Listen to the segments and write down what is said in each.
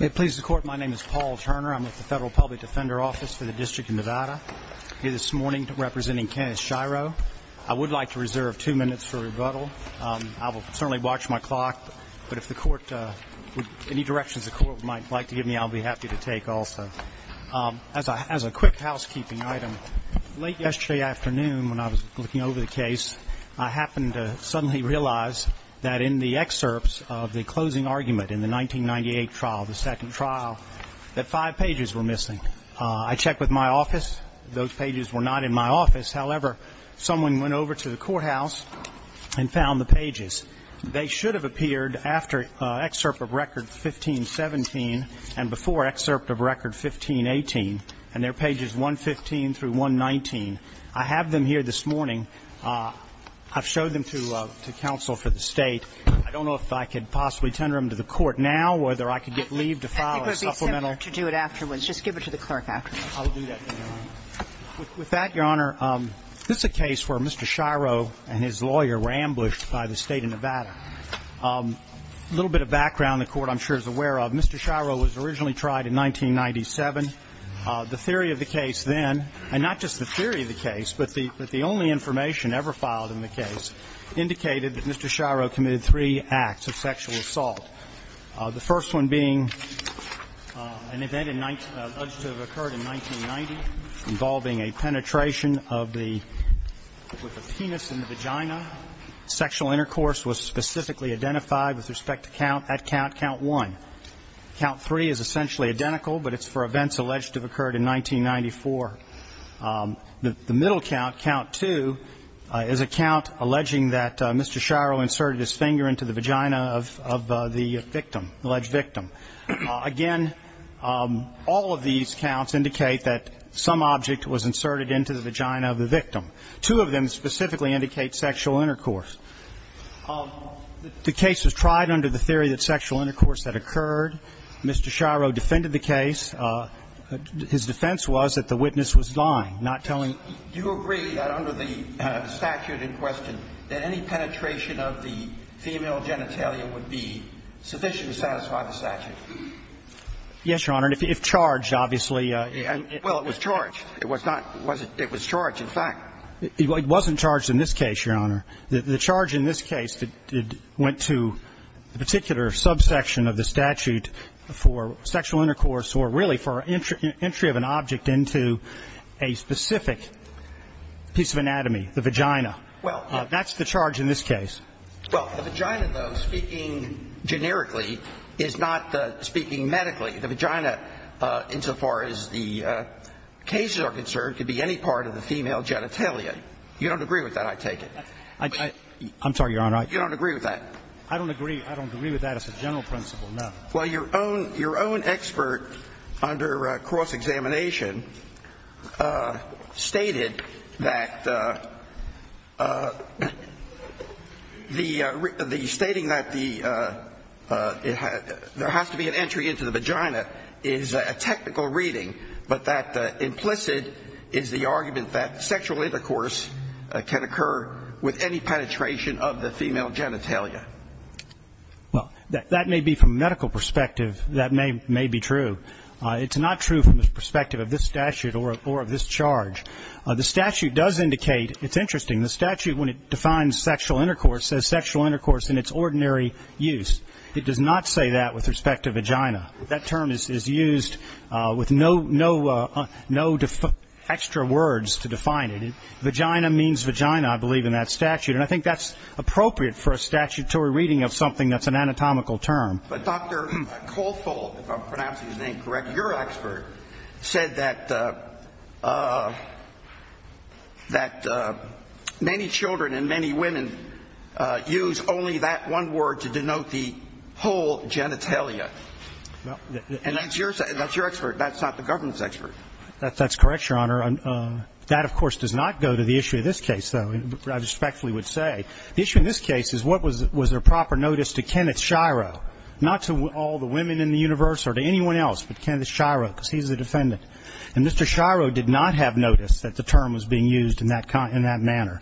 It pleases the Court, my name is Paul Turner. I'm with the Federal Public Defender Office for the District of Nevada. Here this morning representing Kenneth Shiro. I would like to reserve two minutes for rebuttal. I will certainly watch my clock, but if the Court, any directions the Court might like to give me, I'll be happy to take also. As a quick housekeeping item, late yesterday afternoon when I was looking over the case, I happened to suddenly realize that in the excerpts of the closing argument in the 1998 trial, the second trial, that five pages were missing. I checked with my office. Those pages were not in my office. However, someone went over to the courthouse and found the pages. They should have appeared after excerpt of record 1517 and before excerpt of record 1518, and they're pages 115 through 119. I have them here this morning. I've showed them to counsel for the State. I don't know if I could possibly tender them to the Court now, whether I could get leave to file a supplemental. I think it would be simple to do it afterwards. Just give it to the clerk afterwards. I'll do that, Your Honor. With that, Your Honor, this is a case where Mr. Shiro and his lawyer were ambushed by the State of Nevada. A little bit of background the Court, I'm sure, is aware of. Mr. Shiro was originally tried in 1997. The theory of the case then, and not just the theory of the case, but the only information ever filed in the case, indicated that Mr. Shiro committed three acts of sexual assault, the first one being an event alleged to have occurred in 1990 involving a penetration of the penis in the vagina. The second sexual intercourse was specifically identified with respect to count at count, count one. Count three is essentially identical, but it's for events alleged to have occurred in 1994. The middle count, count two, is a count alleging that Mr. Shiro inserted his finger into the vagina of the victim, alleged victim. Again, all of these counts indicate that some object was inserted into the vagina of the victim. Two of them specifically indicate sexual intercourse. The case was tried under the theory that sexual intercourse had occurred. Mr. Shiro defended the case. His defense was that the witness was lying, not telling the truth. Do you agree that under the statute in question that any penetration of the female genitalia would be sufficient to satisfy the statute? Yes, Your Honor, if charged, obviously. Well, it was charged. It was charged, in fact. It wasn't charged in this case, Your Honor. The charge in this case went to the particular subsection of the statute for sexual intercourse or really for entry of an object into a specific piece of anatomy, the vagina. That's the charge in this case. Well, the vagina, though, speaking generically, is not speaking medically. The vagina, insofar as the cases are concerned, could be any part of the female genitalia. You don't agree with that, I take it? I'm sorry, Your Honor. You don't agree with that? I don't agree. I don't agree with that as a general principle, no. Well, your own expert under cross-examination stated that the stating that there has to be an entry into the vagina is a technical reading, but that implicit is the argument that sexual intercourse can occur with any penetration of the female genitalia. Well, that may be from a medical perspective, that may be true. It's not true from the perspective of this statute or of this charge. The statute does indicate, it's interesting, the statute when it defines sexual intercourse says sexual intercourse in its ordinary use. It does not say that with respect to vagina. That term is used with no extra words to define it. Vagina means vagina, I believe, in that statute. And I think that's appropriate for a statutory reading of something that's an anatomical term. But, Dr. Cawthorne, if I'm pronouncing his name correctly, your expert said that many children and many women use only that one word to denote the whole genitalia. And that's your expert. That's not the government's expert. That's correct, Your Honor. That, of course, does not go to the issue of this case, though, I respectfully would say. The issue in this case is what was a proper notice to Kenneth Shiro, not to all the women in the universe or to anyone else, but Kenneth Shiro, because he's the defendant. And Mr. Shiro did not have notice that the term was being used in that manner.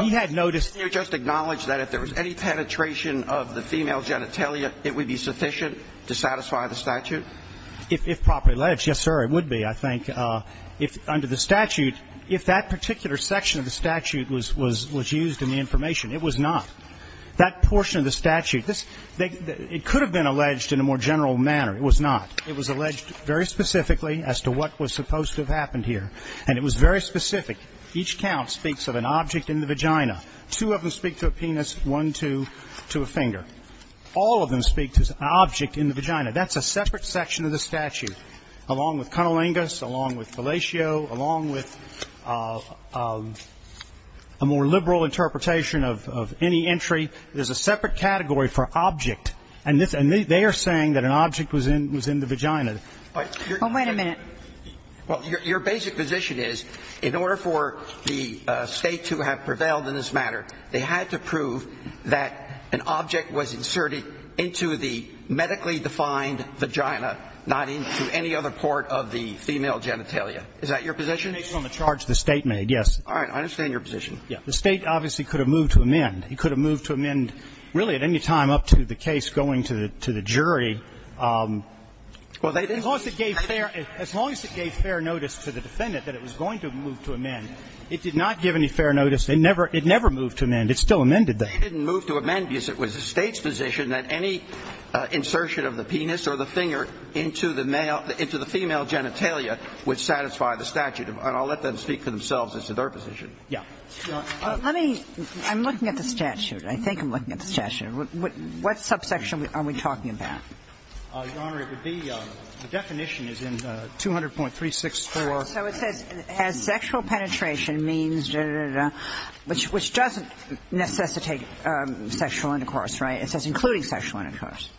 He had notice. Did you just acknowledge that if there was any penetration of the female genitalia, it would be sufficient to satisfy the statute? If properly alleged, yes, sir, it would be, I think. Under the statute, if that particular section of the statute was used in the information, it was not. That portion of the statute, it could have been alleged in a more general manner. It was not. It was alleged very specifically as to what was supposed to have happened here. And it was very specific. Each count speaks of an object in the vagina. Two of them speak to a penis, one to a finger. All of them speak to an object in the vagina. That's a separate section of the statute, along with Cunnilingus, along with Fellatio, along with a more liberal interpretation of any entry. There's a separate category for object. And they are saying that an object was in the vagina. But your basic position is, in order for the State to have prevailed in this matter, they had to prove that an object was inserted into the medically defined vagina, not into any other part of the female genitalia. Is that your position? Based on the charge the State made, yes. All right. I understand your position. The State obviously could have moved to amend. It could have moved to amend really at any time up to the case going to the jury. As long as it gave fair notice to the defendant that it was going to move to amend, it did not give any fair notice. It never moved to amend. It still amended that. It didn't move to amend because it was the State's position that any insertion of the penis or the finger into the female genitalia would satisfy the statute. And I'll let them speak for themselves as to their position. Yes. I'm looking at the statute. I think I'm looking at the statute. What subsection are we talking about? Your Honor, it would be the definition is in 200.364. So it says as sexual penetration means, which doesn't necessitate sexual intercourse, right? It says including sexual intercourse.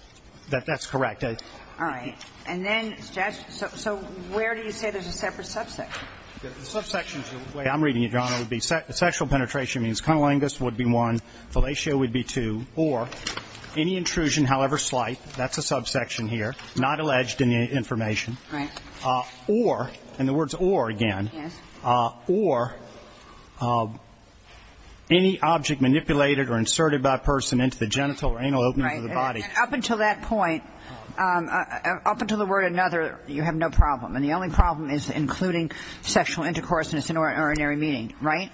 That's correct. All right. And then, so where do you say there's a separate subsection? The subsection, the way I'm reading it, Your Honor, would be sexual penetration means cunnilingus would be one, fellatio would be two, or any intrusion, however slight, that's a subsection here, not alleged in the information. Right. Or, and the word's or again. Yes. Or any object manipulated or inserted by a person into the genital or anal openings of the body. Right. And up until that point, up until the word another, you have no problem. And the only problem is including sexual intercourse in its inordinary meaning, right?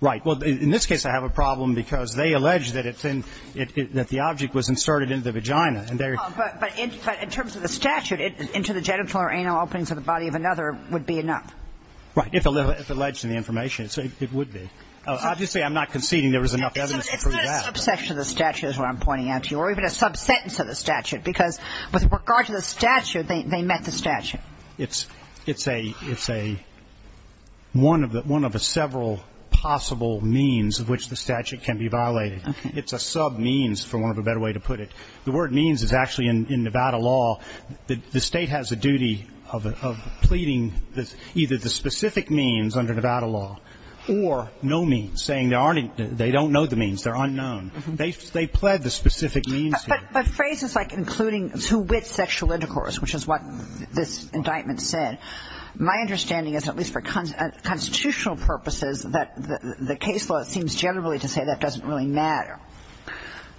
Right. Well, in this case, I have a problem because they allege that it's in, that the object was inserted into the vagina. But in terms of the statute, into the genital or anal openings of the body of another would be enough. Right. If alleged in the information, it would be. Obviously, I'm not conceding there was enough evidence to prove that. It's not a subsection of the statute, is what I'm pointing out to you, or even a sub-sentence of the statute. Because with regard to the statute, they met the statute. It's a, it's a, one of the several possible means of which the statute can be violated. Okay. It's a sub-means, for want of a better way to put it. The word means is actually in Nevada law. The state has a duty of pleading either the specific means under Nevada law or no means, saying they don't know the means. They're unknown. They pled the specific means here. But, but phrases like including two-wit sexual intercourse, which is what this indictment said, my understanding is, at least for constitutional purposes, that the case law seems generally to say that doesn't really matter.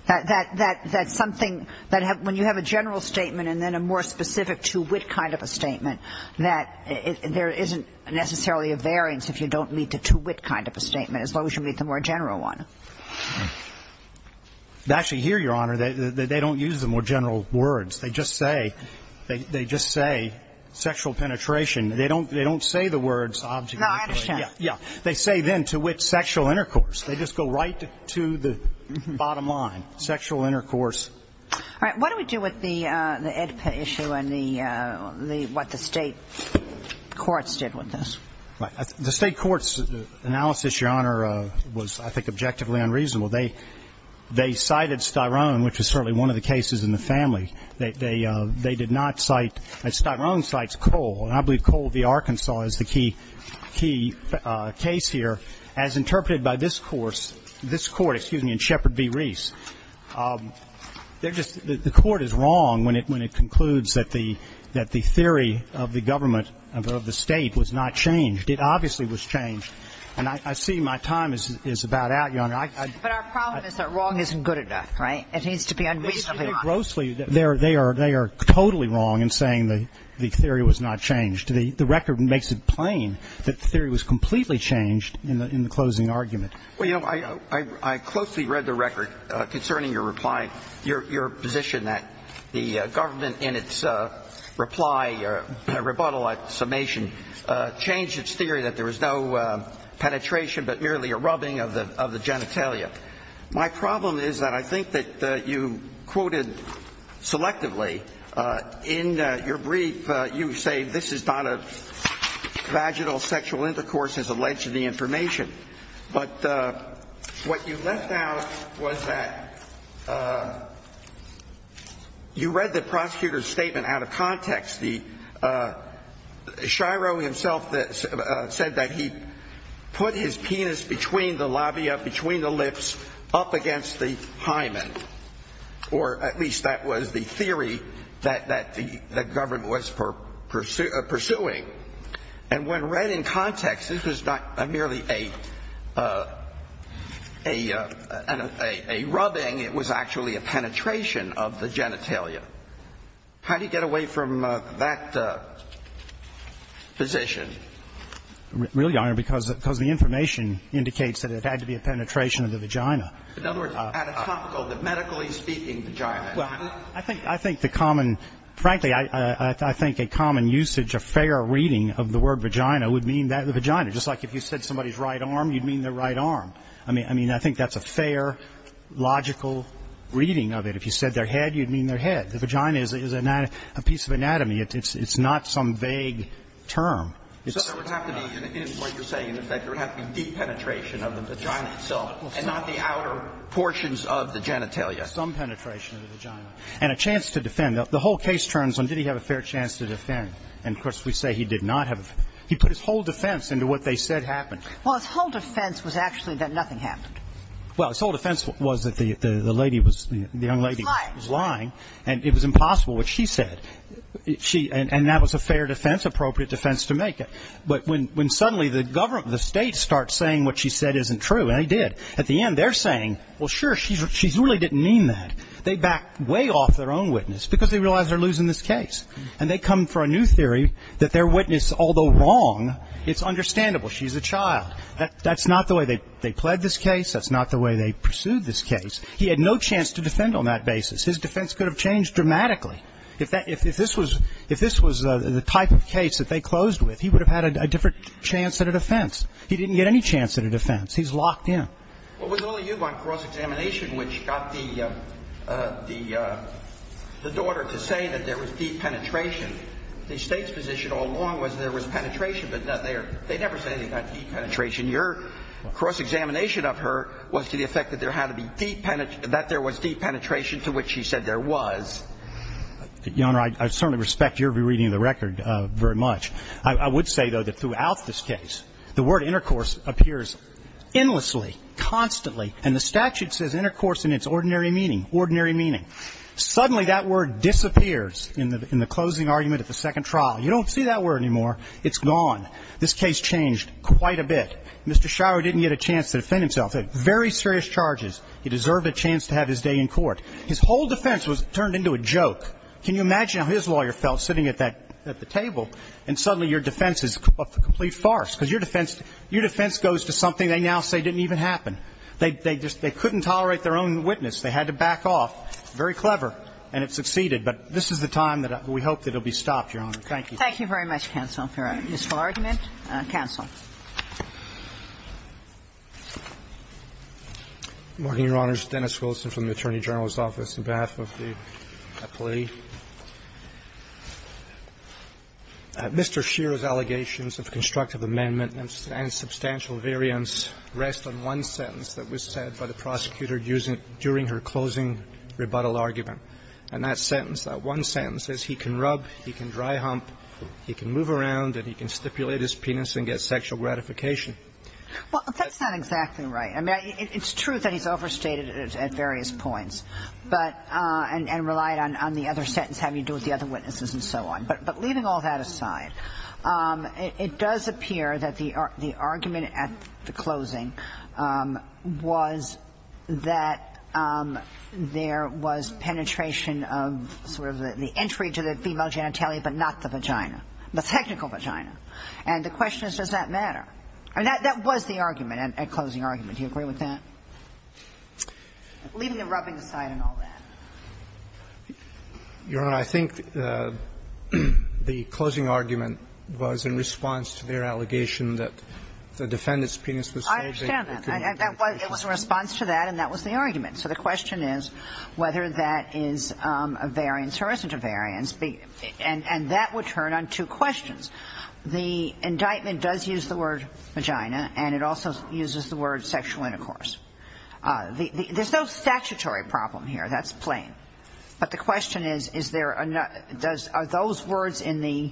That, that, that, that something, that when you have a general statement and then a more specific two-wit kind of a statement, that there isn't necessarily a variance if you don't meet the two-wit kind of a statement, as long as you meet the more general one. Actually, here, Your Honor, they, they, they don't use the more general words. They just say, they, they just say sexual penetration. They don't, they don't say the words object. No, I understand. Yeah. They say then to which sexual intercourse. They just go right to the bottom line. Sexual intercourse. All right. What do we do with the, the EDPA issue and the, the, what the state courts did with this? The state court's analysis, Your Honor, was, I think, objectively unreasonable. They, they cited Styrone, which is certainly one of the cases in the family. They, they, they did not cite, Styrone cites Cole. And I believe Cole v. Arkansas is the key, key case here. As interpreted by this course, this court, excuse me, in Shepard v. Reese, they're just, the, the court is wrong when it, when it concludes that the, that the theory of the government, of the state was not changed. It obviously was changed. And I, I see my time is, is about out, Your Honor. But our problem is that wrong isn't good enough, right? It needs to be unreasonably wrong. They're, they are, they are totally wrong in saying the, the theory was not changed. The, the record makes it plain that the theory was completely changed in the, in the closing argument. Well, you know, I, I, I closely read the record concerning your reply, your, your position that the government in its reply, rebuttal at summation, changed its theory that there was no penetration but merely a rubbing of the, of the genitalia. My problem is that I think that you quoted selectively in your brief, you say this is not a vaginal sexual intercourse as alleged in the information. But what you left out was that you read the prosecutor's statement out of context. The, Shiro himself said that he put his penis between the labia, between the lips, up against the hymen, or at least that was the theory that, that the, that government was pursuing. And when read in context, this was not merely a, a, a, a rubbing, it was actually a penetration of the genitalia. How do you get away from that position? Really, Your Honor, because, because the information indicates that it had to be a penetration of the vagina. In other words, anatomical, the medically speaking vagina. Well, I think, I think the common, frankly, I, I, I think a common usage of fair reading of the word vagina would mean that the vagina, just like if you said somebody's right arm, you'd mean their right arm. I mean, I mean, I think that's a fair, logical reading of it. If you said their head, you'd mean their head. The vagina is a, is a piece of anatomy. It's, it's not some vague term. So there would have to be, in what you're saying, in effect, there would have to be deep penetration of the vagina itself, and not the outer portions of the genitalia. Some penetration of the vagina. And a chance to defend. The whole case turns on did he have a fair chance to defend. And, of course, we say he did not have. He put his whole defense into what they said happened. Well, his whole defense was actually that nothing happened. Well, his whole defense was that the, the lady was, the young lady was lying. And it was impossible what she said. She, and, and that was a fair defense, appropriate defense to make it. But when, when suddenly the government, the state starts saying what she said isn't true, and they did, at the end they're saying, well, sure, she's, she really didn't mean that. They back way off their own witness because they realize they're losing this case. And they come for a new theory that their witness, although wrong, it's understandable. She's a child. That's not the way they, they pled this case. That's not the way they pursued this case. He had no chance to defend on that basis. His defense could have changed dramatically. If that, if this was, if this was the type of case that they closed with, he would have had a different chance at a defense. He didn't get any chance at a defense. He's locked in. Well, was it only you on cross-examination which got the, the, the daughter to say that there was deep penetration? The State's position all along was there was penetration, but they are, they never say anything about deep penetration. Your cross-examination of her was to the effect that there had to be deep, that there was deep penetration to which she said there was. Your Honor, I, I certainly respect your re-reading of the record very much. I, I would say, though, that throughout this case, the word intercourse appears endlessly, constantly, and the statute says intercourse in its ordinary meaning, ordinary meaning. Suddenly, that word disappears in the, in the closing argument at the second trial. You don't see that word anymore. It's gone. This case changed quite a bit. Mr. Schauer didn't get a chance to defend himself. He had very serious charges. He deserved a chance to have his day in court. His whole defense was turned into a joke. Can you imagine how his lawyer felt sitting at that, at the table, and suddenly your defense is a complete farce, because your defense, your defense goes to something they now say didn't even happen. They, they just, they couldn't tolerate their own witness. They had to back off. Very clever, and it succeeded. But this is the time that we hope that it will be stopped, Your Honor. Thank you. Thank you very much, counsel, for a useful argument. Counsel. Good morning, Your Honors. Dennis Wilson from the Attorney General's Office, on behalf of the appellee. Mr. Scheer's allegations of constructive amendment and substantial variance rest on one sentence that was said by the prosecutor during her closing rebuttal argument. And that sentence, that one sentence, says he can rub, he can dry hump, he can move around, and he can stipulate his penis and get sexual gratification. Well, that's not exactly right. I mean, it's true that he's overstated it at various points, but, and relied on the other sentence having to do with the other witnesses and so on. But leaving all that aside, it does appear that the argument at the closing was that there was penetration of sort of the entry to the female genitalia, but not the vagina. The technical vagina. And the question is, does that matter? I mean, that was the argument at closing argument. Do you agree with that? Leaving the rubbing aside and all that. Your Honor, I think the closing argument was in response to their allegation that the defendant's penis was surging. I understand that. It was in response to that, and that was the argument. So the question is whether that is a variance or isn't a variance. And that would turn on two questions. The indictment does use the word vagina, and it also uses the word sexual intercourse. There's no statutory problem here. That's plain. But the question is, is there, are those words in the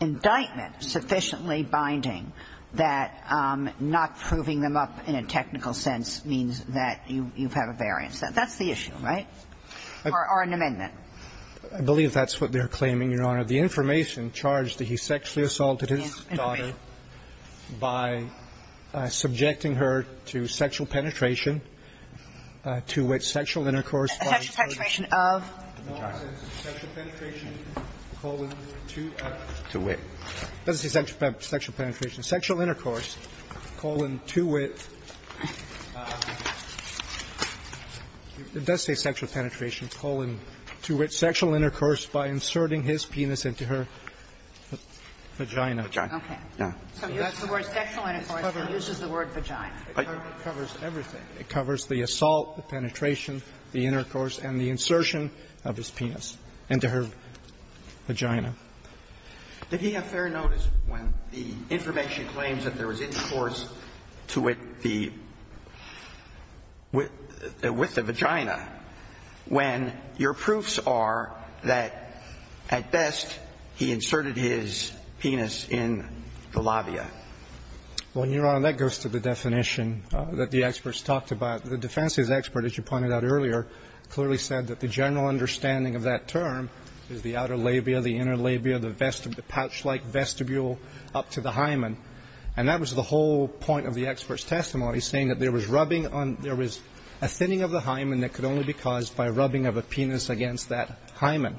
indictment sufficiently binding that not proving them up in a technical sense means that you have a variance? That's the issue, right? Or an amendment. I believe that's what they're claiming, Your Honor. The information charged that he sexually assaulted his daughter by subjecting her to sexual penetration, to which sexual intercourse. Sexual penetration of? Sexual penetration colon to. To wit. It doesn't say sexual penetration. Sexual intercourse colon to wit. It does say sexual penetration colon to wit. Sexual intercourse by inserting his penis into her vagina. Okay. So that's the word sexual intercourse, but it uses the word vagina. It covers everything. It covers the assault, the penetration, the intercourse, and the insertion of his penis into her vagina. Did he have fair notice when the information claims that there was intercourse to wit the, with the vagina, when your proofs are that at best he inserted his penis in the labia? Well, Your Honor, that goes to the definition that the experts talked about. The defense's expert, as you pointed out earlier, clearly said that the general understanding of that term is the outer labia, the inner labia, the vestibule, the pouch-like vestibule up to the hymen. And that was the whole point of the expert's testimony, saying that there was rubbing on, there was a thinning of the hymen that could only be caused by rubbing of a penis against that hymen.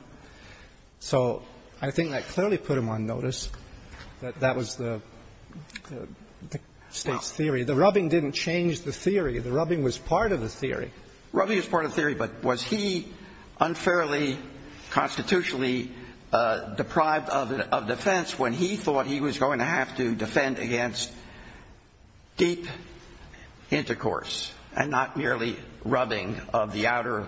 So I think that clearly put him on notice that that was the State's theory. The rubbing didn't change the theory. The rubbing was part of the theory. Rubbing is part of the theory, but was he unfairly constitutionally deprived of defense when he thought he was going to have to defend against deep intercourse and not merely rubbing of the outer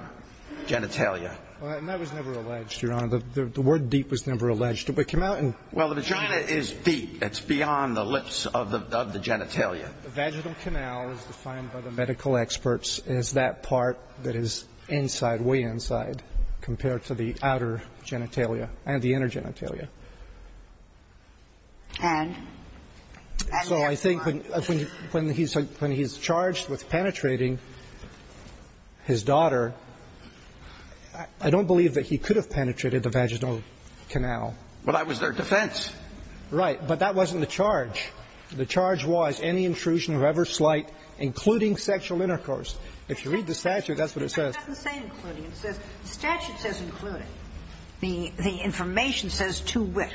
genitalia? And that was never alleged, Your Honor. The word deep was never alleged. Well, the vagina is deep. It's beyond the lips of the genitalia. The vaginal canal is defined by the medical experts as that part that is inside, compared to the outer genitalia and the inner genitalia. And? So I think when he's charged with penetrating his daughter, I don't believe that he could have penetrated the vaginal canal. Well, that was their defense. Right. But that wasn't the charge. The charge was any intrusion of ever slight, including sexual intercourse. If you read the statute, that's what it says. It doesn't say including. It says the statute says including. The information says to wit,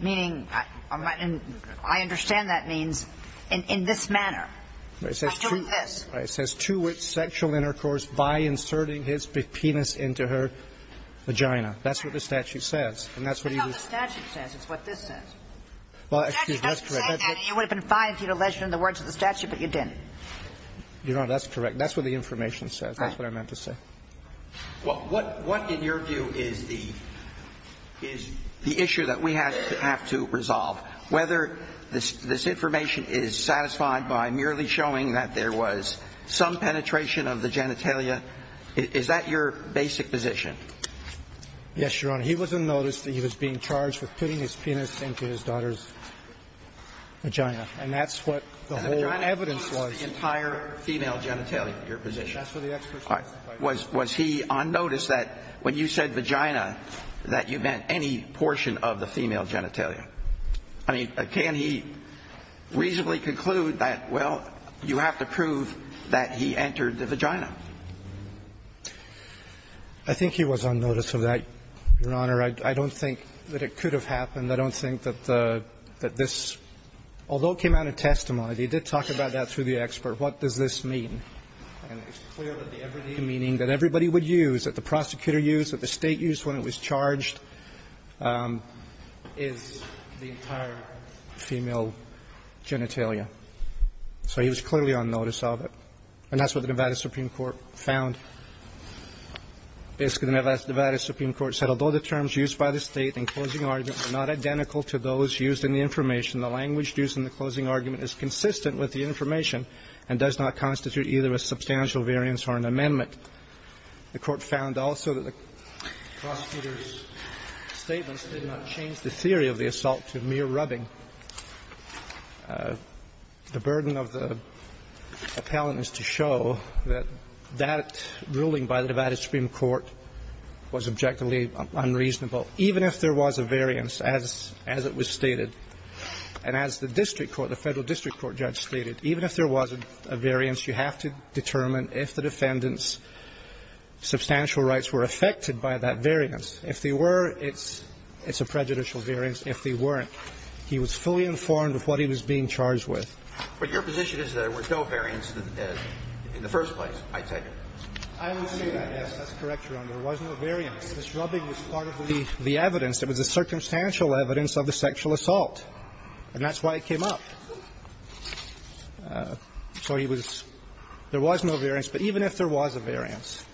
meaning I understand that means in this manner. I do this. Right. It says to wit sexual intercourse by inserting his penis into her vagina. That's what the statute says. And that's what he was. It's not what the statute says. It's what this says. Well, excuse me. That's correct. The statute doesn't say that. It would have been fine if he had alleged it in the words of the statute, but he didn't. Your Honor, that's correct. That's what the information says. Right. That's what I meant to say. Well, what in your view is the issue that we have to resolve? Whether this information is satisfied by merely showing that there was some penetration of the genitalia, is that your basic position? Yes, Your Honor. He was unnoticed. He was being charged with putting his penis into his daughter's vagina. And that's what the whole evidence was. That's the entire female genitalia, your position. That's what the expert says. Was he unnoticed that when you said vagina, that you meant any portion of the female genitalia? I mean, can he reasonably conclude that, well, you have to prove that he entered the vagina? I think he was unnoticed of that, Your Honor. I don't think that it could have happened. I don't think that this, although it came out in testimony, they did talk about that through the expert. What does this mean? And it's clear that the everyday meaning that everybody would use, that the prosecutor used, that the State used when it was charged, is the entire female genitalia. So he was clearly unnoticed of it. And that's what the Nevada Supreme Court found. Basically, the Nevada Supreme Court said, although the terms used by the State in closing arguments are not identical to those used in the information, the language used in the closing argument is consistent with the information and does not constitute either a substantial variance or an amendment. The Court found also that the prosecutor's statements did not change the theory of the assault to mere rubbing. The burden of the appellant is to show that that ruling by the Nevada Supreme Court was objectively unreasonable, even if there was a variance, as it was stated. And as the district court, the Federal District Court judge stated, even if there was a variance, you have to determine if the defendant's substantial rights were affected by that variance. If they were, it's a prejudicial variance. If they weren't, he was fully informed of what he was being charged with. But your position is that there was no variance in the first place, I take it? I would say that, yes. That's correct, Your Honor. There was no variance. This rubbing was part of the evidence. It was a circumstantial evidence of the sexual assault, and that's why it came up. So he was – there was no variance, but even if there was a variance,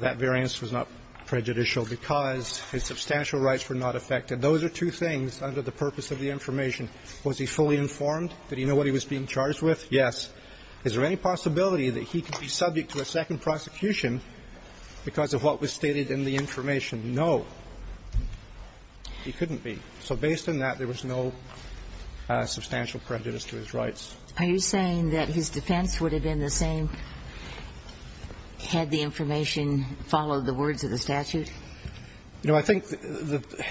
that variance was not prejudicial because his substantial rights were not affected. Those are two things under the purpose of the information. Was he fully informed? Did he know what he was being charged with? Yes. Is there any possibility that he could be subject to a second prosecution because of what was stated in the information? No. He couldn't be. So based on that, there was no substantial prejudice to his rights. Are you saying that his defense would have been the same had the information followed the words of the statute? No. I think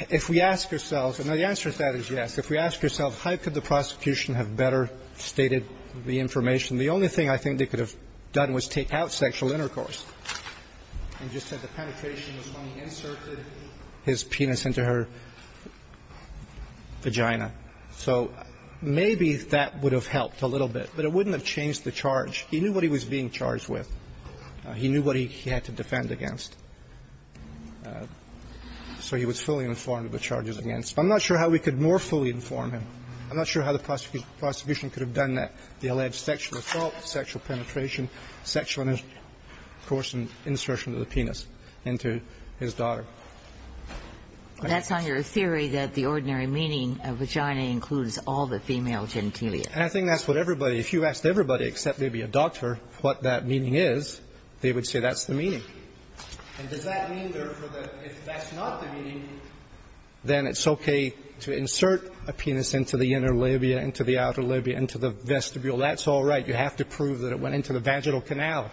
if we ask ourselves – and the answer to that is yes. If we ask ourselves how could the prosecution have better stated the information, the only thing I think they could have done was take out sexual intercourse and just said the penetration was when he inserted his penis into her vagina. So maybe that would have helped a little bit, but it wouldn't have changed the charge. He knew what he was being charged with. He knew what he had to defend against. So he was fully informed of the charges against him. I'm not sure how we could more fully inform him. I'm not sure how the prosecution could have done that, the alleged sexual assault, sexual penetration, sexual intercourse and insertion of the penis into his daughter. That's on your theory that the ordinary meaning of vagina includes all the female genitalia. And I think that's what everybody – if you asked everybody except maybe a doctor what that meaning is, they would say that's the meaning. And does that mean, therefore, that if that's not the meaning, then it's okay to insert a penis into the inner labia, into the outer labia, into the vestibule. That's all right. You have to prove that it went into the vaginal canal.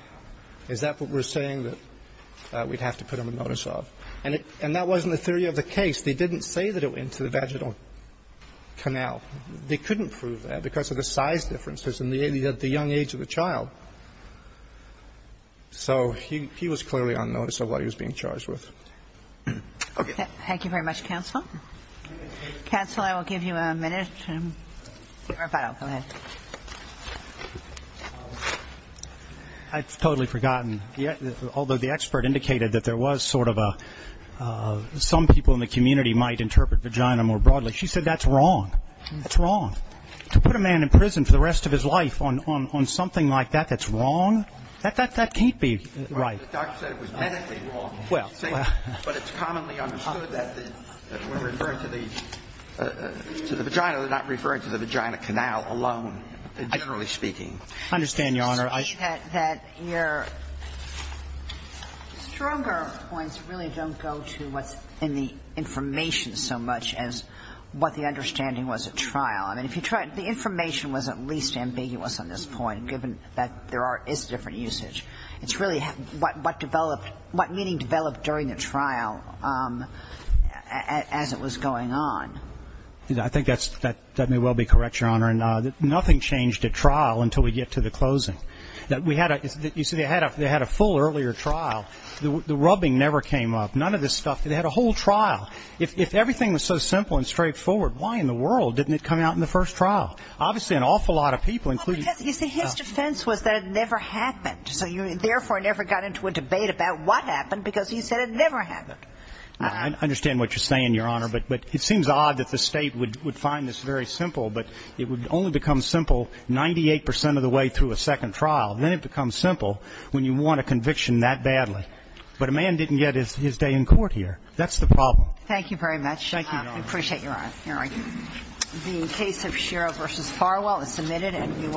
Is that what we're saying that we'd have to put him on notice of? And that wasn't the theory of the case. They didn't say that it went into the vaginal canal. They couldn't prove that because of the size differences and the young age of the child. So he was clearly on notice of what he was being charged with. Okay. Thank you very much, counsel. Counsel, I will give you a minute. Go ahead. I've totally forgotten. Although the expert indicated that there was sort of a – some people in the community might interpret vagina more broadly. She said that's wrong. That's wrong. To put a man in prison for the rest of his life on something like that that's wrong, that can't be right. The doctor said it was medically wrong. But it's commonly understood that when referred to the vagina, they're not referring to the vagina canal alone, generally speaking. I understand, Your Honor. I think that your stronger points really don't go to what's in the information so much as what the understanding was at trial. I mean, if you tried – the information was at least ambiguous on this point, given that there is different usage. It's really what developed – what meaning developed during the trial as it was going on. I think that may well be correct, Your Honor. Nothing changed at trial until we get to the closing. You see, they had a full earlier trial. The rubbing never came up. None of this stuff. They had a whole trial. If everything was so simple and straightforward, why in the world didn't it come out in the first trial? Obviously, an awful lot of people, including – Yes, you see, his defense was that it never happened. So you therefore never got into a debate about what happened because he said it never happened. I understand what you're saying, Your Honor. But it seems odd that the State would find this very simple. But it would only become simple 98 percent of the way through a second trial. Then it becomes simple when you want a conviction that badly. But a man didn't get his day in court here. That's the problem. Thank you very much. Thank you, Your Honor. I appreciate your honor. All right. The case of Schirra v. Farwell is submitted.